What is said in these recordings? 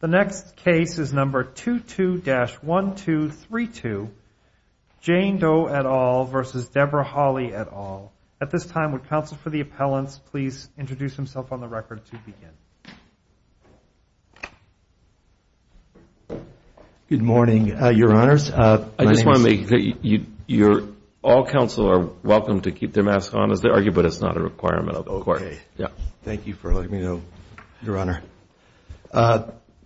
The next case is number 22-1232, Jane Doe et al. v. Deborah Holly et al. At this time, would counsel for the appellants please introduce himself on the record to begin? Good morning, your honors. I just want to make that all counsel are welcome to keep their mask on as they argue, but it's not a requirement of the court. Thank you for letting me know, your honor.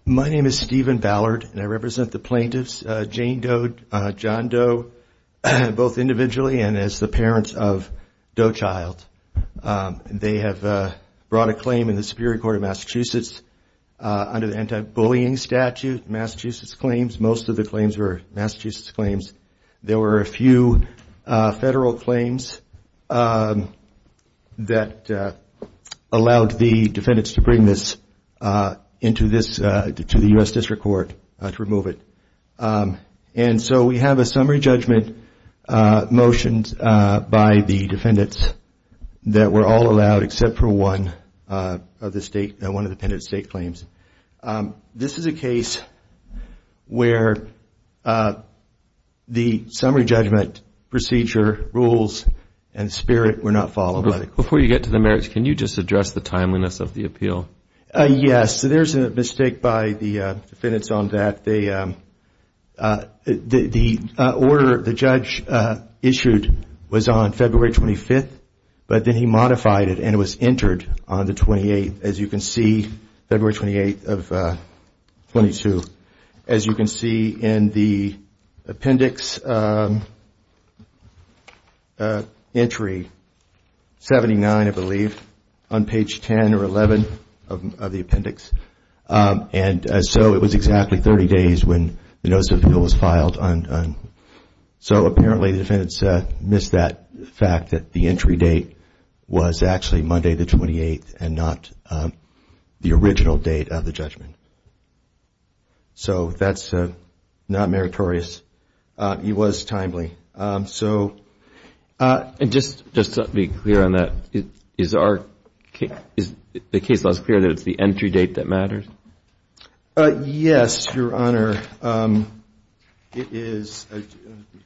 My name is Stephen Ballard, and I represent the plaintiffs, Jane Doe, John Doe, both individually and as the parents of Doe Child. They have brought a claim in the Superior Court of Massachusetts under the anti-bullying statute, Massachusetts claims. Most of the claims were Massachusetts claims. There were a few federal claims that allowed the defendants to bring this to the US District Court to remove it. And so we have a summary judgment motioned by the defendants that were all allowed, except for one of the state, one of the penitent state claims. This is a case where the summary judgment procedure rules and spirit were not followed. Before you get to the merits, can you just address the timeliness of the appeal? Yes. So there's a mistake by the defendants on that. The order the judge issued was on February 25th, but then he modified it and it was entered on the 28th, as you can see, February 28th of 22. As you can see in the appendix, entry 79, I believe, on page 10 or 11 of the appendix. And so it was exactly 30 days when the notice of appeal was filed. So apparently the defendants missed that fact that the entry date was actually Monday the 28th and not the original date of the judgment. So that's not meritorious. It was timely. So just to be clear on that, is the case law as clear that it's the entry date that matters? Yes, Your Honor. It is, I'll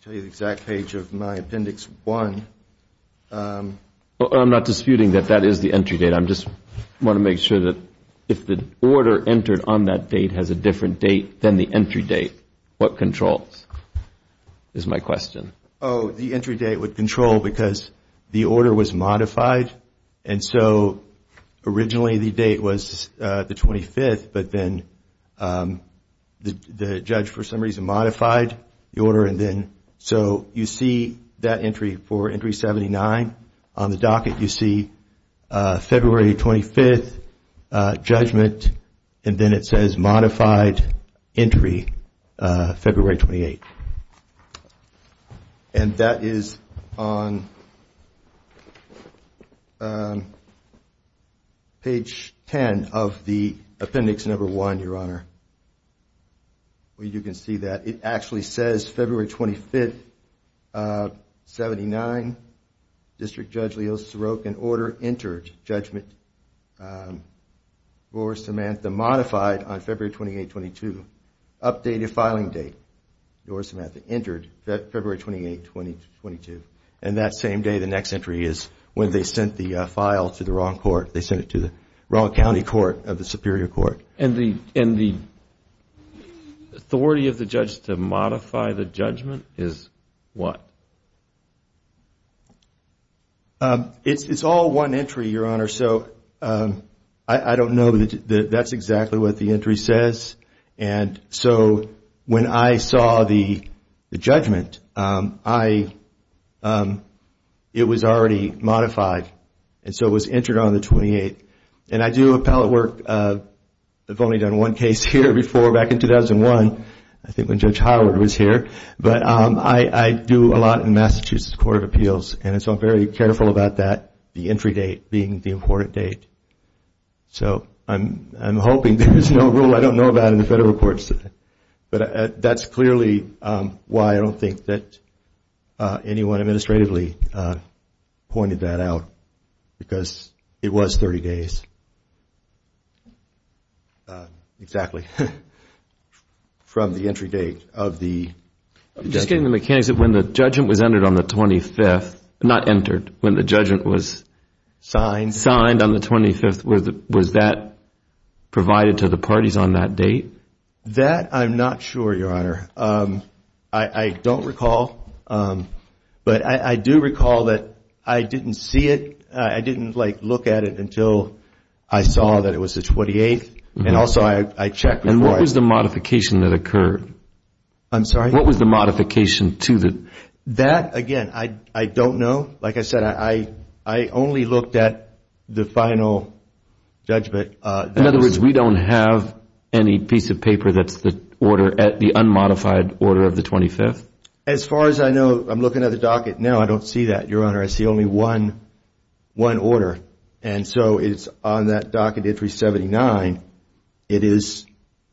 tell you the exact page of my appendix one. I'm not disputing that that is the entry date. I just want to make sure that if the order entered on that date has a different date than the entry date, what controls? Is my question. Oh, the entry date would control because the order was modified. And so originally the date was the 25th, but then the judge, for some reason, modified the order. So you see that entry for entry 79. On the docket, you see February 25th judgment, and then it says modified entry February 28th. And that is on page 10 of the appendix number one, Your Honor, where you can see that it actually says February 25th, 79. District Judge Leo Sirocco, an order entered, judgment for Samantha modified on February 28th, 22. Updated filing date for Samantha, entered February 28th, 22. And that same day, the next entry is when they sent the file to the wrong court. They sent it to the wrong county court of the Superior Court. And the authority of the judge to modify the judgment is what? It's all one entry, Your Honor. So I don't know that that's exactly what the entry says. And so when I saw the judgment, it was already modified. And so it was entered on the 28th. And I do appellate work. I've only done one case here before back in 2001. I think when Judge Howard was here. But I do a lot in Massachusetts Court of Appeals. And so I'm very careful about that, the entry date being the important date. So I'm hoping there's no rule I don't know about in the federal courts. But that's clearly why I don't think that anyone administratively pointed that out, because it was 30 days, exactly, from the entry date of the judgment. I'm just getting the mechanics of when the judgment was entered on the 25th, not entered, when the judgment was signed on the 25th, was that provided to the parties on that date? That I'm not sure, Your Honor. I don't recall. But I do recall that I didn't see it. I didn't look at it until I saw that it was the 28th. And also, I checked before I saw it. And what was the modification that occurred? I'm sorry? What was the modification to the? That, again, I don't know. Like I said, I only looked at the final judgment. In other words, we don't have any piece of paper that's at the unmodified order of the 25th? As far as I know, I'm looking at the docket now. I don't see that, Your Honor. I see only one order. And so it's on that docket entry 79.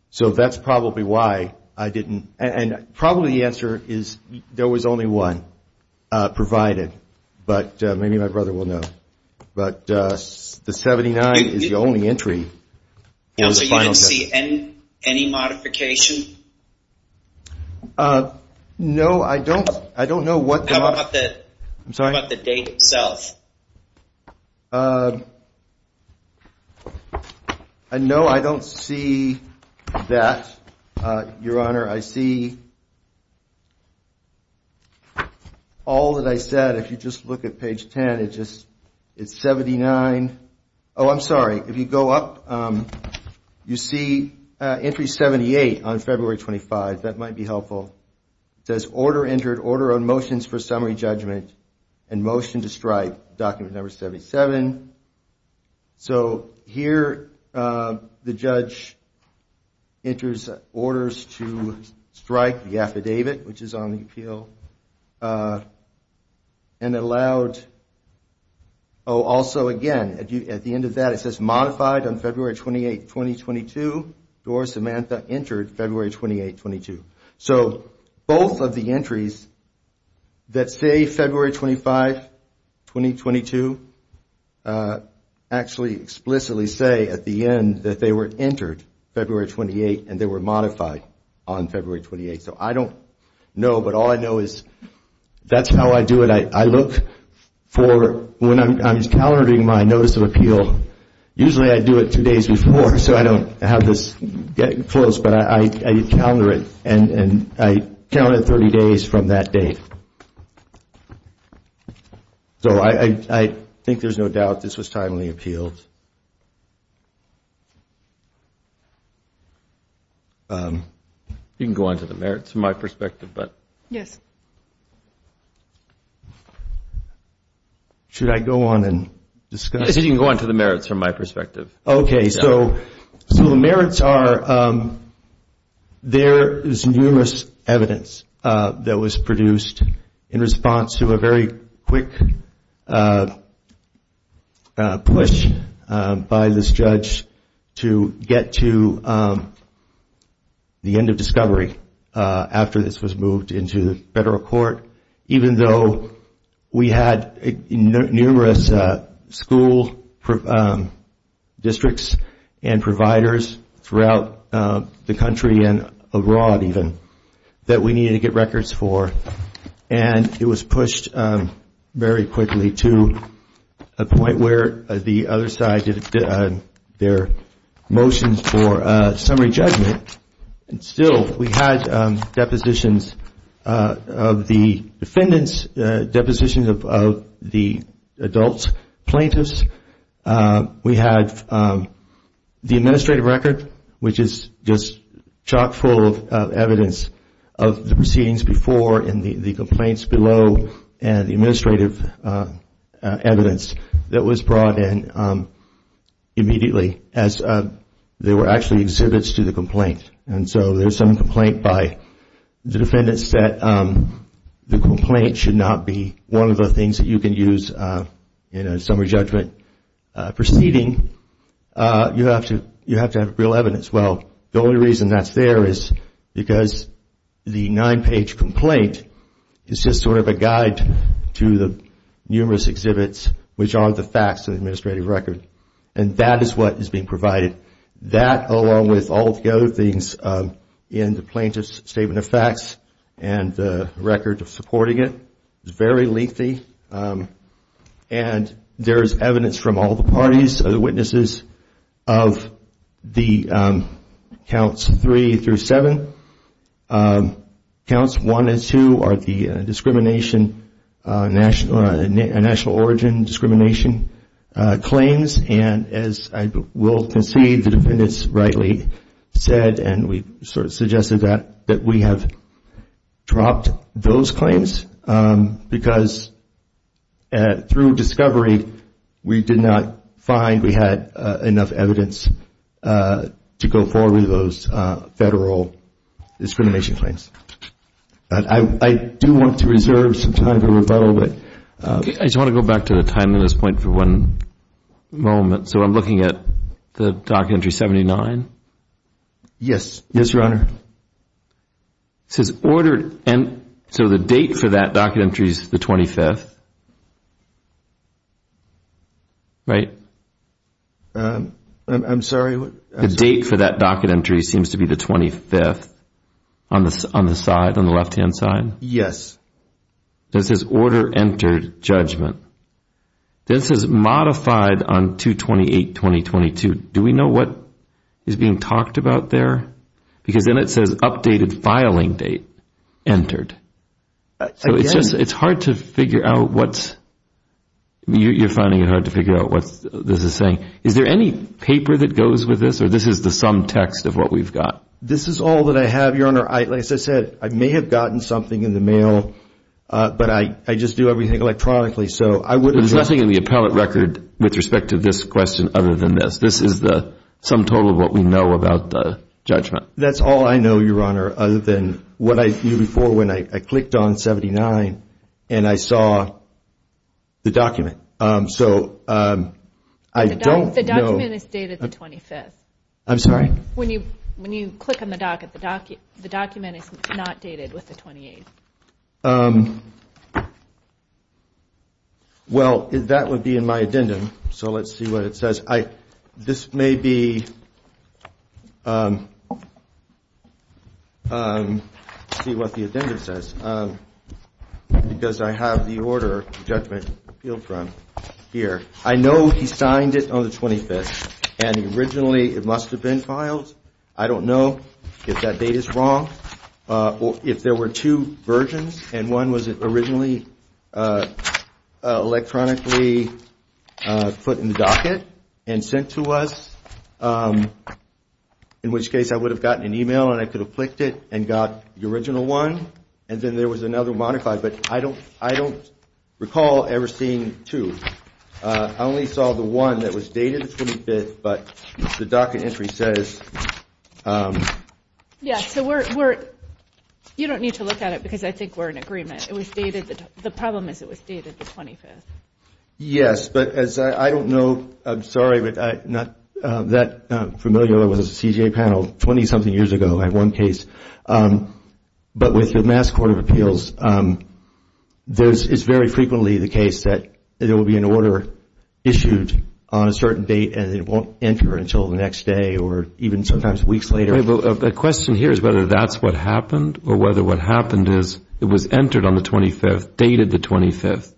So that's probably why I didn't. And probably the answer is there was only one provided. But maybe my brother will know. But the 79 is the only entry. Counsel, you didn't see any modification? No, I don't know what the. How about the date itself? No, I don't see that, Your Honor. I see all that I said. If you just look at page 10, it's 79. Oh, I'm sorry. If you go up, you see entry 78 on February 25. That might be helpful. It says, order entered, order on motions for summary judgment and motion to strike, document number 77. So here, the judge enters orders to strike the affidavit, which is on the appeal. And it allowed, oh, also, again, at the end of that, it says modified on February 28, 2022. Dora Samantha entered February 28, 2022. So both of the entries that say February 25, 2022, actually explicitly say at the end that they were entered February 28 and they were modified on February 28. So I don't know. But all I know is that's how I do it. I look for, when I'm calendaring my notice of appeal, usually I do it two days before. So I don't have this getting close. But I calendar it. And I count it 30 days from that date. So I think there's no doubt this was timely appealed. You can go on to the merits from my perspective. Yes. Should I go on and discuss? You can go on to the merits from my perspective. OK, so the merits are there is numerous evidence that was produced in response to a very quick push by this judge to get to the end of discovery after this was moved into the federal court, even though we had numerous school districts and providers throughout the country and abroad, even, that we needed to get records for. And it was pushed very quickly to a point where the other side did their motions for summary judgment. And still, we had depositions of the defendants, depositions of the adults, plaintiffs. We had the administrative record, which is just chock full of evidence of the proceedings before and the complaints below and the administrative evidence that was brought in immediately as there were actually exhibits to the complaint. And so there's some complaint by the defendants that the complaint should not be one of the things that you can use in a summary judgment proceeding. You have to have real evidence. Well, the only reason that's there is because the nine-page complaint is just sort of a guide to the numerous exhibits, which aren't the facts of the administrative record. And that is what is being provided. That, along with all the other things in the plaintiff's statement of facts and the record of supporting it, is very lengthy. And there is evidence from all the parties, the witnesses of the counts three through seven. Counts one and two are the discrimination, national origin discrimination claims. And as I will concede, the defendants rightly said, and we sort of suggested that, that we have dropped those claims. Because through discovery, we did not find we had enough evidence to go forward with those federal discrimination claims. But I do want to reserve some time to rebuttal. I just want to go back to the time and this point for one moment. So I'm looking at the docket entry 79. Yes. Yes, Your Honor. It says ordered. And so the date for that docket entry is the 25th, right? I'm sorry. The date for that docket entry seems to be the 25th on the side, on the left-hand side. Yes. It says order entered judgment. Then it says modified on 228-2022. Do we know what is being talked about there? Because then it says updated filing date entered. So it's hard to figure out what's, you're finding it hard to figure out what this is saying. Is there any paper that goes with this, or this is the sum text of what we've got? This is all that I have, Your Honor. Like I said, I may have gotten something in the mail, but I just do everything electronically. There's nothing in the appellate record with respect to this question other than this. This is the sum total of what we know about the judgment. That's all I know, Your Honor, other than what I knew before when I clicked on 79 and I saw the document. So I don't know. The document is dated the 25th. I'm sorry? When you click on the docket, the document is not dated with the 28th. Well, that would be in my addendum. So let's see what it says. This may be, let's see what the addendum says, because I have the order of judgment appealed from here. I know he signed it on the 25th, and originally it must have been filed. I don't know if that date is wrong, or if there were two versions, and one was originally electronically put in the docket and sent to us, in which case I would have gotten an email and I could have clicked it and got the original one, and then there was another modified. But I don't recall ever seeing two. I only saw the one that was dated the 25th, but the docket entry says. Yeah. So you don't need to look at it, because I think we're in agreement. The problem is it was dated the 25th. Yes, but as I don't know, I'm sorry, but I'm not that familiar with the CJA panel. 20 something years ago, I had one case. But with the Mass Court of Appeals, this is very frequently the case that there will be an order issued on a certain date, and it won't enter until the next day, or even sometimes weeks later. The question here is whether that's what happened, or whether what happened is it was entered on the 25th, dated the 25th,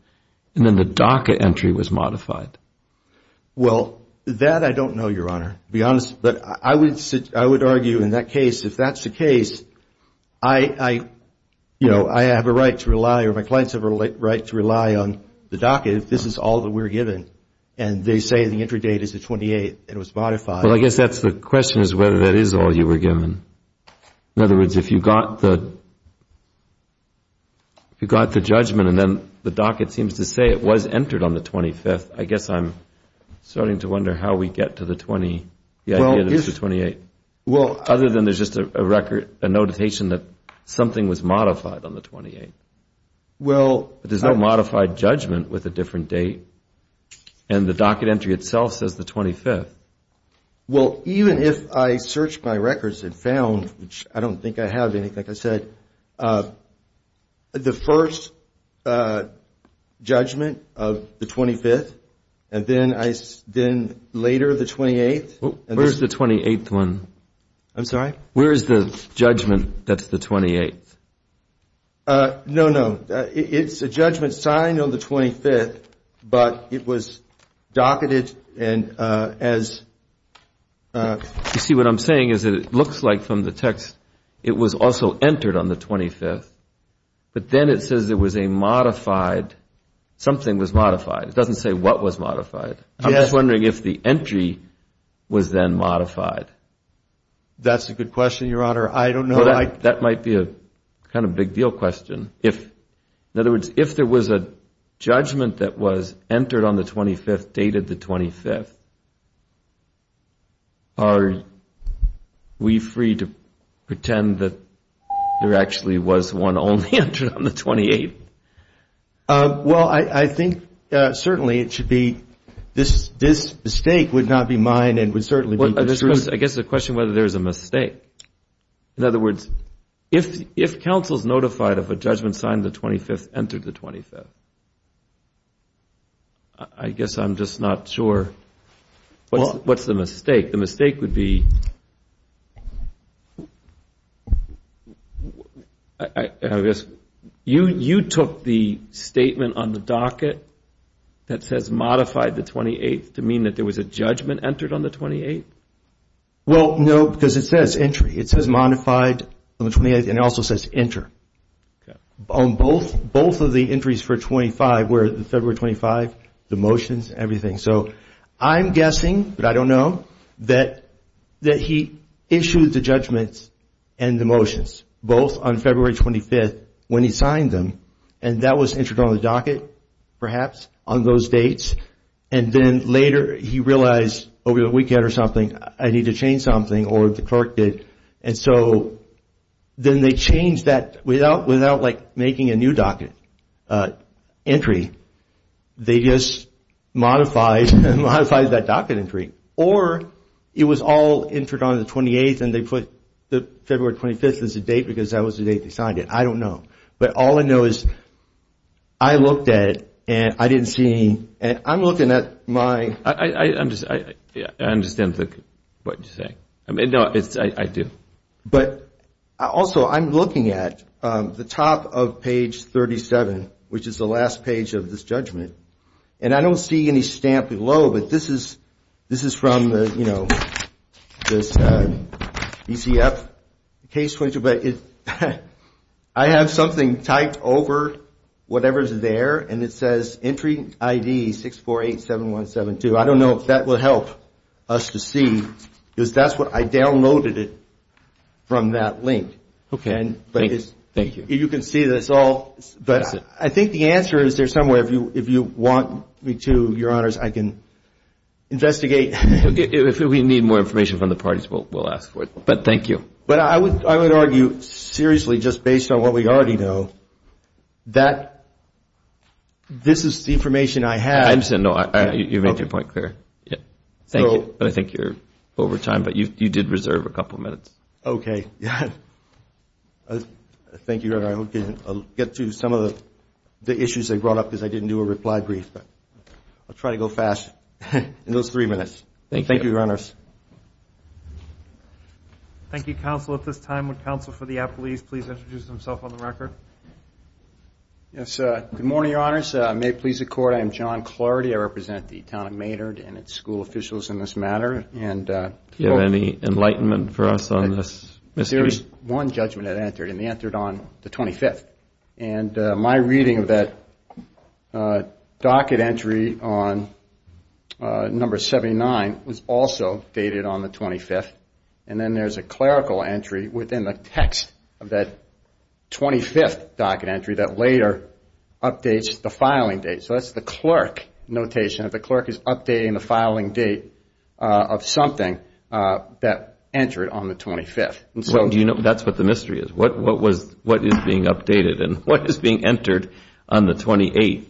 and then the docket entry was modified. Well, that I don't know, Your Honor, to be honest. But I would argue in that case, if that's the case, I have a right to rely, or my clients have a right to rely on the docket if this is all that we're given. And they say the entry date is the 28th, and it was modified. Well, I guess that's the question, is whether that is all you were given. In other words, if you got the judgment, and then the docket seems to say it was entered on the 25th, I guess I'm starting to wonder how we get to the 28th, other than there's just a notation that something was modified on the 28th. There's no modified judgment with a different date, and the docket entry itself says the 25th. Well, even if I searched my records and found, which I don't think I have anything, like I said, the first judgment of the 25th, and then later the 28th. Where's the 28th one? I'm sorry? Where is the judgment that's the 28th? No, no, it's a judgment signed on the 25th, but it was docketed and as. You see, what I'm saying is that it looks like from the text, it was also entered on the 25th, but then it says there was a modified, something was modified. It doesn't say what was modified. I'm just wondering if the entry was then modified. That's a good question, Your Honor, I don't know. That might be a kind of big deal question. If, in other words, if there was a judgment that entered on the 25th, dated the 25th, are we free to pretend that there actually was one only entered on the 28th? Well, I think certainly it should be, this mistake would not be mine and would certainly be the truth. I guess the question whether there is a mistake. In other words, if counsel's notified of a judgment signed the 25th, entered the 25th, I guess I'm just not sure what's the mistake. The mistake would be, I guess, you took the statement on the docket that says modified the 28th to mean that there was a judgment entered on the 28th? Well, no, because it says entry. It says modified on the 28th, and it also says enter. On both of the entries for 25, where the February 25, the motions, everything. So I'm guessing, but I don't know, that he issued the judgments and the motions, both on February 25th, when he signed them. And that was entered on the docket, perhaps, on those dates. And then later, he realized over the weekend or something, I need to change something, or the clerk did. And so then they changed that without making a new docket entry. They just modified that docket entry. Or it was all entered on the 28th, and they put the February 25th as a date, because that was the date they signed it. I don't know. But all I know is I looked at it, and I didn't see any. And I'm looking at my. I understand what you're saying. I mean, no, I do. But also, I'm looking at the top of page 37, which is the last page of this judgment. And I don't see any stamp below. But this is from the, you know, this BCF case, but I have something typed over whatever's there. And it says entry ID 6487172. I don't know if that will help us to see, because that's what I downloaded it from that link. OK, thank you. You can see that it's all. But I think the answer is there somewhere. If you want me to, your honors, I can investigate. If we need more information from the parties, we'll ask for it. But thank you. But I would argue, seriously, just based on what we already know, that this is the information I have. I'm saying, no, you made your point clear. Thank you. But I think you're over time. But you did reserve a couple of minutes. OK, thank you, your honor. I'll get to some of the issues I brought up, because I didn't do a reply brief. I'll try to go fast in those three minutes. Thank you, your honors. Thank you, counsel. At this time, would counsel for the appellees please introduce himself on the record? Yes, good morning, your honors. May it please the court, I am John Clardy. I represent the town of Maynard and its school officials in this matter. Do you have any enlightenment for us on this mystery? One judgment had entered, and it entered on the 25th. And my reading of that docket entry on number 79 was also dated on the 25th. And then there's a clerical entry within the text of that 25th docket entry that later updates the filing date. So that's the clerk notation. The clerk is updating the filing date of something that entered on the 25th. That's what the mystery is. What is being updated? And what is being entered on the 28th?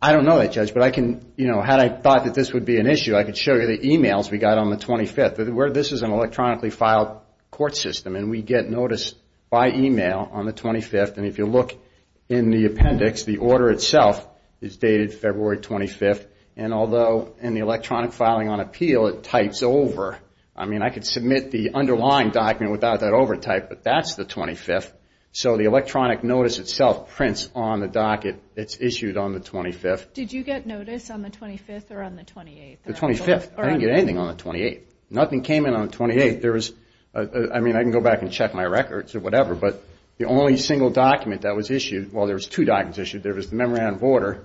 I don't know that, Judge. But had I thought that this would be an issue, I could show you the emails we got on the 25th. This is an electronically filed court system. And we get notice by email on the 25th. And if you look in the appendix, the order itself is dated February 25th. And although in the electronic filing on appeal, it types over. I mean, I could submit the underlying document without that overtype, but that's the 25th. So the electronic notice itself prints on the docket. It's issued on the 25th. Did you get notice on the 25th or on the 28th? The 25th. I didn't get anything on the 28th. Nothing came in on the 28th. There was, I mean, I can go back and check my records or whatever, but the only single document that was issued, well, there was two documents issued. There was the memorandum of order,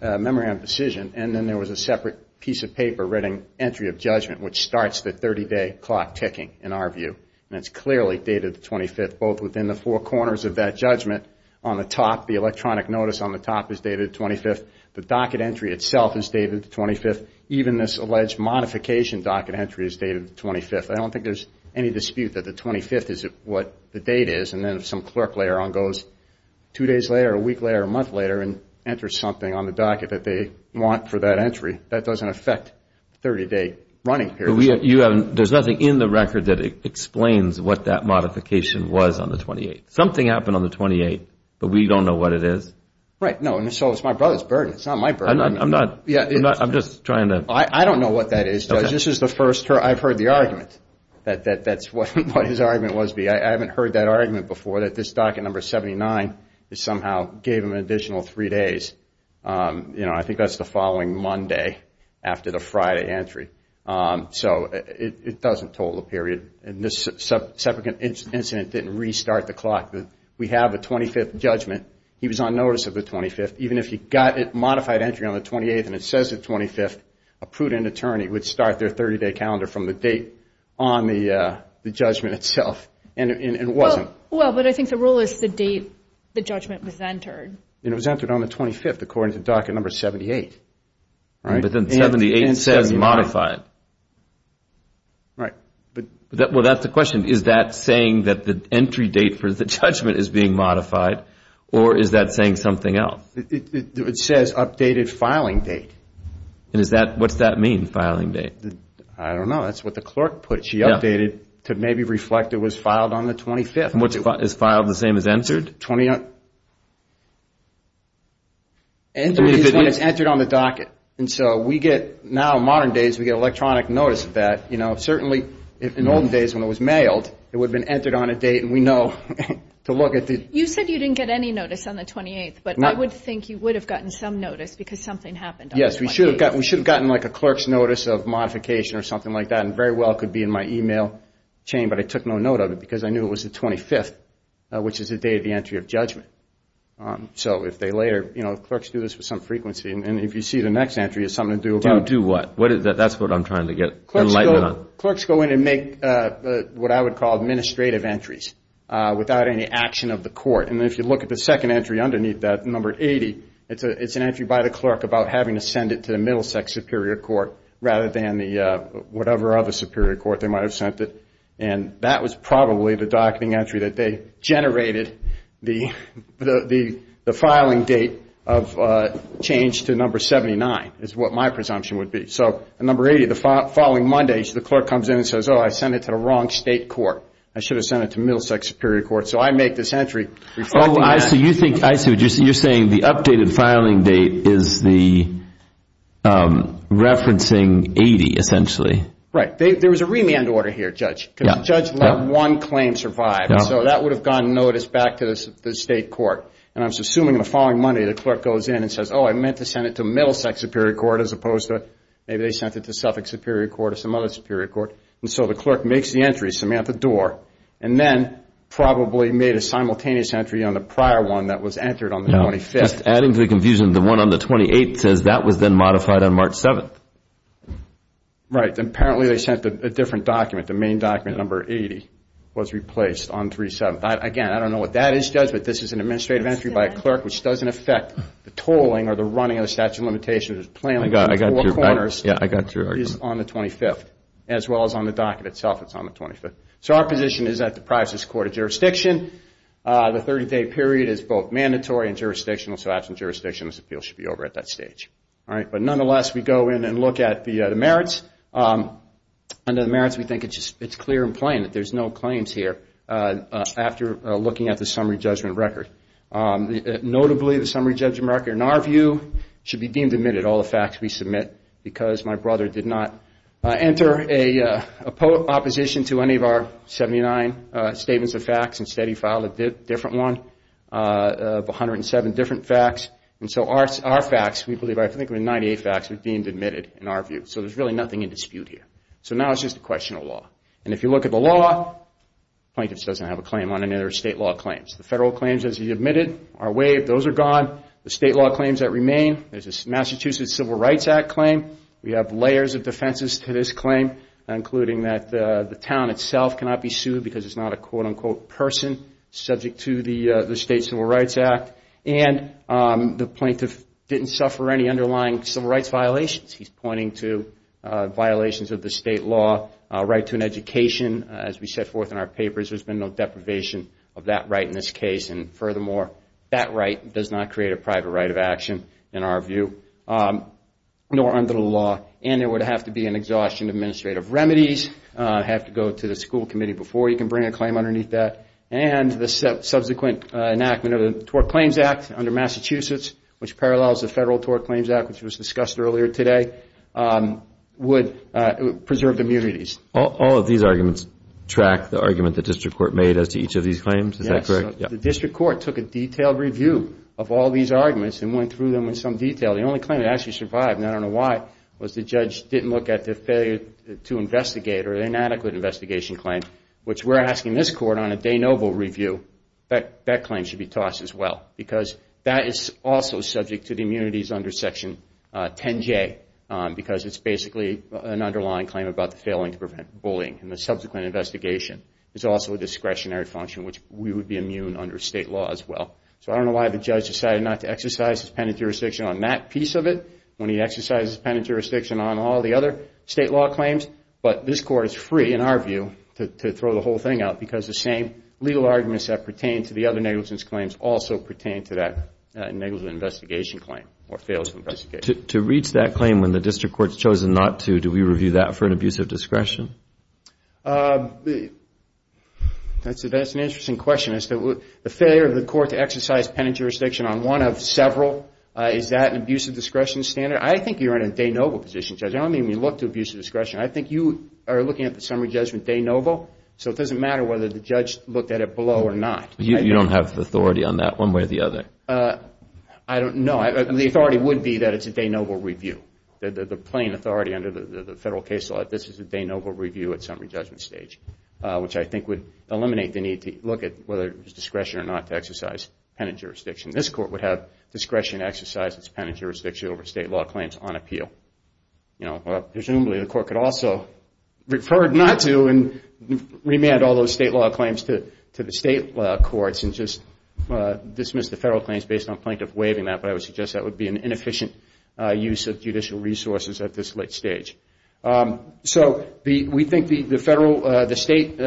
memorandum of decision, and then there was a separate piece of paper writing entry of judgment, which starts the 30-day clock ticking, in our view. And it's clearly dated the 25th, both within the four corners of that judgment. On the top, the electronic notice on the top is dated the 25th. The docket entry itself is dated the 25th. Even this alleged modification docket entry is dated the 25th. I don't think there's any dispute that the 25th is what the date is. And then if some clerk layer on goes two days later, a week later, or a month later, and enters something on the docket that they want for that entry, that doesn't affect 30-day running period. There's nothing in the record that explains what that modification was on the 28th. Something happened on the 28th, but we don't know what it is. Right, no, and so it's my brother's burden. It's not my burden. I'm not, I'm just trying to. I don't know what that is, Judge. This is the first, I've heard the argument, that that's what his argument must be. I haven't heard that argument before, that this docket number 79 somehow gave him an additional three days. I think that's the following Monday after the Friday entry. So it doesn't total the period. And this suffragette incident didn't restart the clock. We have a 25th judgment. He was on notice of the 25th. Even if he got a modified entry on the 28th and it says the 25th, a prudent attorney would start their 30-day calendar from the date on the judgment itself. And it wasn't. Well, but I think the rule is the date the judgment was entered. And it was entered on the 25th according to docket number 78. But then 78 says modified. Right. Well, that's the question. Is that saying that the entry date for the judgment is being modified? Or is that saying something else? It says updated filing date. And is that, what's that mean, filing date? I don't know. That's what the clerk put. She updated to maybe reflect it was filed on the 25th. It's filed the same as entered? 29th? Entered is when it's entered on the docket. And so we get, now in modern days, we get electronic notice of that. You know, certainly in olden days when it was mailed, it would have been entered on a date. And we know to look at the- You said you didn't get any notice on the 28th. But I would think you would have gotten some notice because something happened on the 28th. Yes, we should have gotten like a clerk's notice of modification or something like that. And very well, it could be in my email chain. But I took no note of it because I knew it was the 25th, which is the day of the entry of judgment. So if they later, you know, clerks do this with some frequency. And if you see the next entry, it's something to do about. To do what? That's what I'm trying to get enlightenment on. Clerks go in and make what I would call administrative entries without any action of the court. And if you look at the second entry underneath that, number 80, it's an entry by the clerk about having to send it to the Middlesex Superior Court rather than the whatever other Superior Court they might have sent it. And that was probably the docketing entry that they generated the filing date of change to number 79, is what my presumption would be. So number 80, the following Monday, the clerk comes in and says, oh, I sent it to the wrong state court. I should have sent it to Middlesex Superior Court. So I make this entry reflecting that. Oh, I see. I see what you're saying. The updated filing date is the referencing 80, essentially. Right. There was a remand order here, Judge, because the judge let one claim survive. So that would have gone notice back to the state court. And I was assuming in the following Monday, the clerk goes in and says, oh, I meant to send it to Middlesex Superior Court as opposed to, maybe they sent it to Suffolk Superior Court or some other Superior Court. And so the clerk makes the entry, Samantha Dorr, and then probably made a simultaneous entry on the prior one that was entered on the 25th. Adding to the confusion, the one on the 28th says that was then modified on March 7th. Right. And apparently they sent a different document. The main document, number 80, was replaced on March 7th. Again, I don't know what that is, Judge, but this is an administrative entry by a clerk, which doesn't affect the tolling or the running of the statute of limitations. I got your point. Yeah, I got your argument. It's on the 25th. As well as on the docket itself, it's on the 25th. So our position is that the privacy is court of jurisdiction. The 30-day period is both mandatory and jurisdictional. So absent jurisdiction, this appeal should be over at that stage. All right. But nonetheless, we go in and look at the merits. Under the merits, we think it's clear and plain that there's no claims here after looking at the summary judgment record. Notably, the summary judgment record, in our view, should be deemed admitted, all the facts we submit, because my brother did not enter a opposition to any of our 79 statements of facts. Instead, he filed a different one of 107 different facts. And so our facts, we believe, I think, of the 98 facts are deemed admitted, in our view. So there's really nothing in dispute here. So now it's just a question of law. And if you look at the law, plaintiffs doesn't have a claim on any other state law claims. The federal claims, as he admitted, are waived. Those are gone. The state law claims that remain, there's this Massachusetts Civil Rights Act claim. We have layers of defenses to this claim, including that the town itself cannot be sued because it's not a quote, unquote, person subject to the State Civil Rights Act. And the plaintiff didn't suffer any underlying civil rights violations. He's pointing to violations of the state law. Right to an education, as we set forth in our papers, there's been no deprivation of that right in this case. And furthermore, that right does not create a private right of action, in our view, nor under the law. And there would have to be an exhaustion of administrative remedies, have to go to the school committee before you can bring a claim underneath that. And the subsequent enactment of the Tort Claims Act under Massachusetts, which parallels the Federal Tort Claims Act, which was discussed earlier today, would preserve the immunities. All of these arguments track the argument the district court made as to each of these claims. Is that correct? The district court took a detailed review of all these arguments and went through them in some detail. The only claim that actually survived, and I don't know why, was the judge didn't look at the failure to investigate or inadequate investigation claim, which we're asking this court on a de novo review, that that claim should be tossed as well. Because that is also subject to the immunities under Section 10J, because it's basically an underlying claim about the failing to prevent bullying in the subsequent investigation. It's also a discretionary function, which we would be immune under state law as well. So I don't know why the judge decided not to exercise his penitent jurisdiction on that piece of it, when he exercised his penitent jurisdiction on all the other state law claims. But this court is free, in our view, to throw the whole thing out. Because the same legal arguments that pertain to the other negligence claims also pertain to that negligent investigation claim, or fails to investigate. To reach that claim when the district court's chosen not to, do we review that for an abuse of discretion? That's an interesting question, is that the failure of the court to exercise penitent jurisdiction on one of several, is that an abuse of discretion standard? I think you're in a de novo position, Judge. I don't mean you look to abuse of discretion. I think you are looking at the summary judgment as a de novo. So it doesn't matter whether the judge looked at it below or not. You don't have authority on that one way or the other. I don't know. The authority would be that it's a de novo review. The plain authority under the federal case law, this is a de novo review at summary judgment stage. Which I think would eliminate the need to look at whether it was discretion or not to exercise penitent jurisdiction. This court would have discretion to exercise its penitent jurisdiction over state law claims on appeal. Presumably, the court could also, referred not to, and remand all those state law claims to the state courts, and just dismiss the federal claims based on plaintiff waiving that. But I would suggest that would be an inefficient use of judicial resources at this late stage. So we think the federal, the state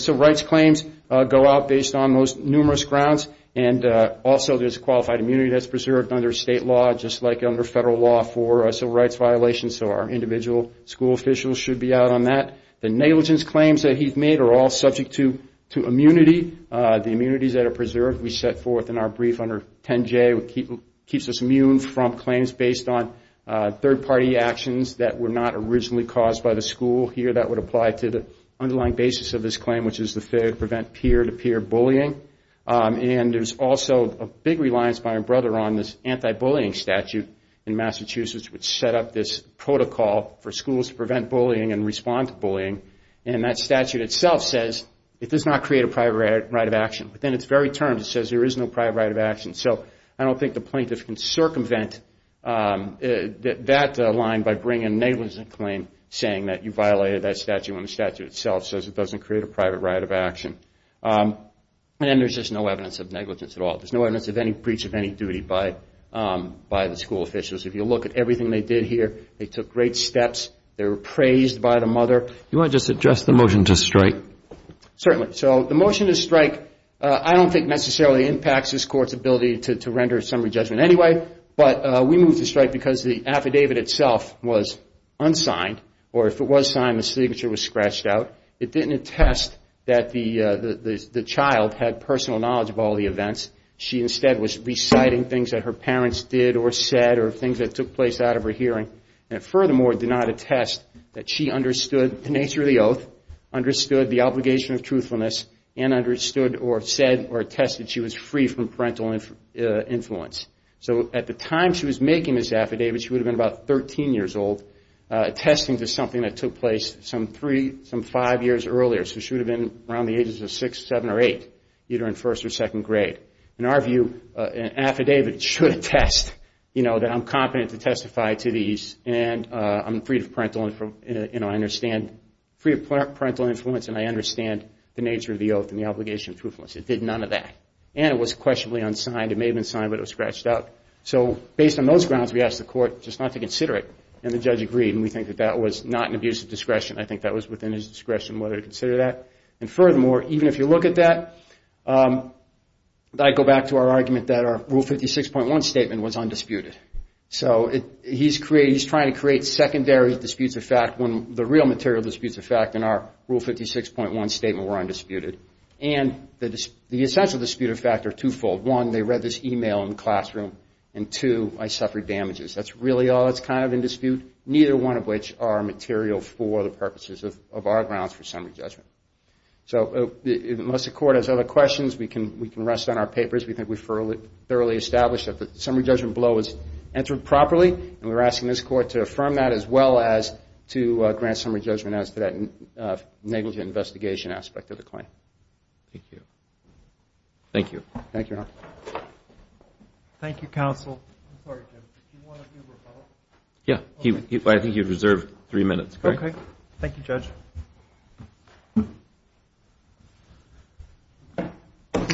civil rights claims go out based on numerous grounds. And also, there's qualified immunity that's preserved under state law, just like under federal law for civil rights violations. So our individual school officials should be out on that. The negligence claims that he's made are all subject to immunity. The immunities that are preserved, we set forth in our brief under 10J, keeps us immune from claims based on third party actions that were not originally caused by the school. Here, that would apply to the underlying basis of this claim, which is to prevent peer-to-peer bullying. And there's also a big reliance by our brother on this anti-bullying statute in Massachusetts, which set up this protocol for schools to prevent bullying and respond to bullying. And that statute itself says it does not create a private right of action. Within its very terms, it says there is no private right of action. So I don't think the plaintiff can circumvent that line by bringing a negligence claim, saying that you violated that statute when the statute itself says it doesn't create a private right of action. And there's just no evidence of negligence at all. There's no evidence of any breach of any duty by the school officials. If you look at everything they did here, they took great steps. They were praised by the mother. You want to just address the motion to strike? Certainly. So the motion to strike, I don't think necessarily impacts this court's ability to render a summary judgment anyway. But we moved to strike because the affidavit itself was unsigned. Or if it was signed, the signature was scratched out. It didn't attest that the child had personal knowledge of all the events. She instead was reciting things that her parents did or said or things that took place out of her hearing. And it furthermore did not attest that she understood the nature of the oath, understood the obligation of truthfulness, and understood or said or attested she was free from parental influence. So at the time she was making this affidavit, she would have been about 13 years old, attesting to something that took place some three, some five years earlier. So she would have been around the ages of six, seven, or eight either in first or second grade. In our view, an affidavit should attest that I'm competent to testify to these and I'm free of parental influence and I understand the nature of the oath and the obligation of truthfulness. It did none of that. And it was questionably unsigned. It may have been signed, but it was scratched out. So based on those grounds, we asked the court just not to consider it. And the judge agreed. And we think that that was not an abuse of discretion. I think that was within his discretion whether to consider that. And furthermore, even if you look at that, I go back to our argument that our Rule 56.1 statement was undisputed. So he's trying to create secondary disputes of fact when the real material disputes of fact in our Rule 56.1 statement were undisputed. And the essential dispute of fact are twofold. One, they read this email in the classroom. And two, I suffered damages. That's really all that's kind of in dispute, neither one of which are material for the purposes of our grounds for summary judgment. So unless the court has other questions, we can rest on our papers. We think we've thoroughly established that the summary judgment below was answered properly. And we're asking this court to affirm that as well as to grant summary judgment as to that negligent investigation aspect of the claim. Thank you. Thank you. Thank you, Your Honor. Thank you, counsel. I'm sorry, Jim. Do you want to do rebuttal? Yeah. I think you've reserved three minutes. Okay. Thank you, Judge.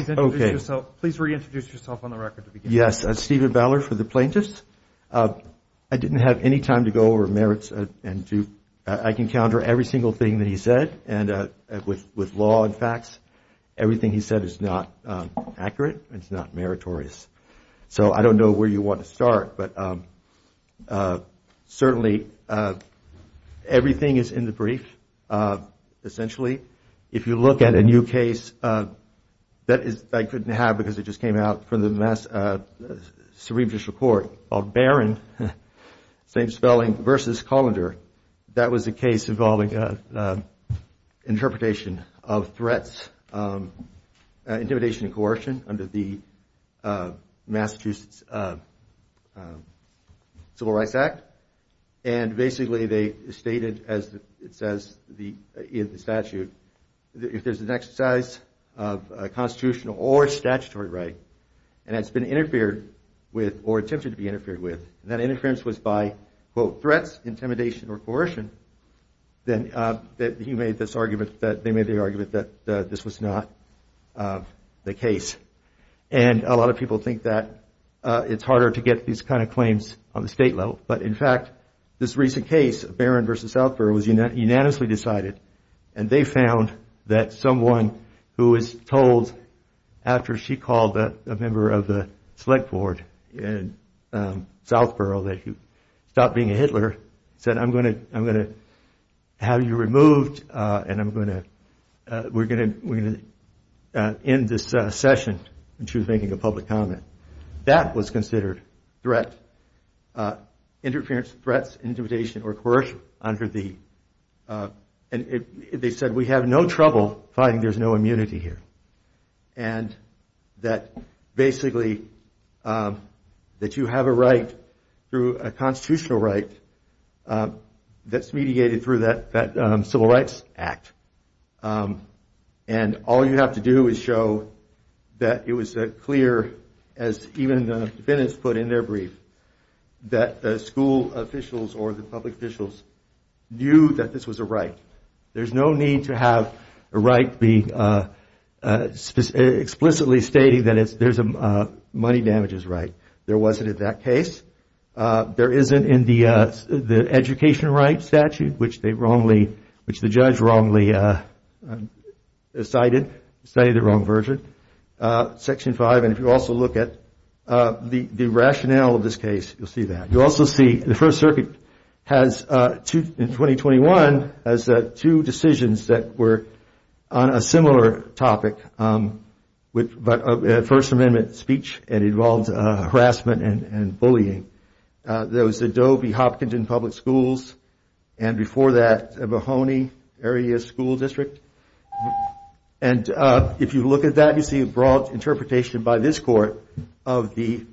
Okay. Please reintroduce yourself on the record to begin. Yes. I'm Stephen Ballard for the plaintiffs. I didn't have any time to go over merits. I can counter every single thing that he said. And with law and facts, everything he said is not accurate and it's not meritorious. So I don't know where you want to start. But certainly, everything is in the brief, essentially. If you look at a new case, that is, I couldn't have because it just came out from the Mass Supreme Judicial Court, called Barron, same spelling, versus Colander. That was a case involving interpretation of threats, intimidation and coercion under the Massachusetts Civil Rights Act. And basically, they stated, as it says in the statute, if there's an exercise of constitutional or statutory right, and it's been interfered with or attempted to be interfered with, and that interference was by, quote, threats, intimidation or coercion, then they made the argument that this was not the case. And a lot of people think that it's harder to get these kind of claims on the state level. But in fact, this recent case, Barron versus Southborough, was unanimously decided, and they found that someone who was told, after she called a member of the select board in Southborough that you stopped being a Hitler, said, I'm gonna have you removed, and we're gonna end this session, and she was making a public comment. That was considered threat, interference, threats, intimidation or coercion under the, and they said, we have no trouble finding there's no immunity here. And that basically, that you have a right through a constitutional right that's mediated through that Civil Rights Act. And all you have to do is show that it was clear, as even the defendants put in their brief, that the school officials or the public officials knew that this was a right. There's no need to have a right be explicitly stating that there's a money damages right. There wasn't in that case. There isn't in the education rights statute, which they wrongly, which the judge wrongly decided, decided the wrong version. Section five, and if you also look at the rationale of this case, you'll see that. You'll also see the First Circuit has, in 2021, has two decisions that were on a similar topic, with First Amendment speech, and it involves harassment and bullying. There was the Dovey Hopkinson Public Schools, and before that, Mahoney Area School District. And if you look at that, you see a broad interpretation by this court of the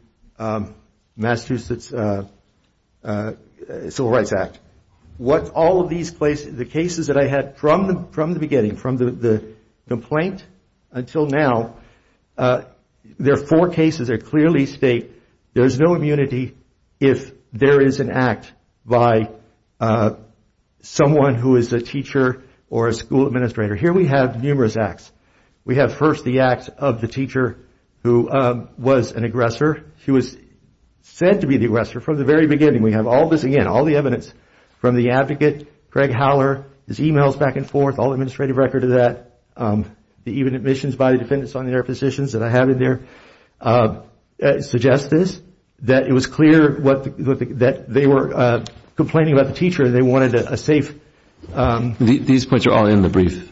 Massachusetts Civil Rights Act. What all of these places, the cases that I had from the beginning, from the complaint until now, there are four cases that clearly state there's no immunity if there is an act by someone who is a teacher or a school administrator. Here we have numerous acts. We have first the act of the teacher who was an aggressor. He was said to be the aggressor from the very beginning. We have all this, again, all the evidence from the advocate, Craig Howler, his emails back and forth, all administrative record of that, the even admissions by the defendants on their positions that I have in there, suggest this, that it was clear that they were complaining about the teacher and they wanted a safe. These points are all in the brief.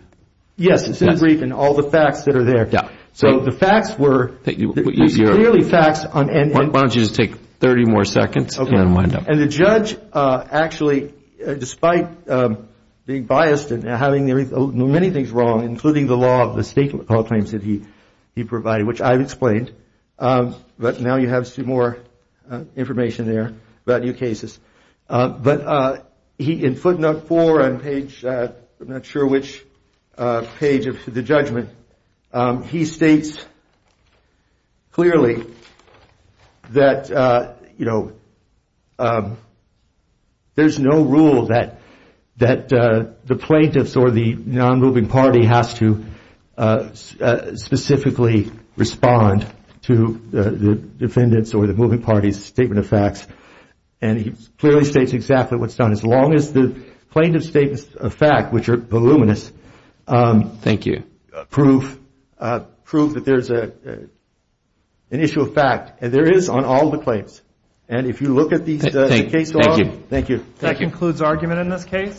Yes, it's in the brief and all the facts that are there. So the facts were, it was clearly facts on end. Why don't you just take 30 more seconds and wind up. And the judge actually, despite being biased and having many things wrong, including the law of the state law claims that he provided, which I've explained, but now you have some more information there about new cases. But he, in footnote four on page, I'm not sure which page of the judgment, he states clearly that there's no rule that the plaintiffs or the non-moving party has to specifically respond to the defendants or the moving party's statement of facts. And he clearly states exactly what's done. As long as the plaintiff's statements of fact, which are voluminous, prove that there's an issue of fact. And there is on all the claims. And if you look at the case log, thank you. That concludes argument in this case.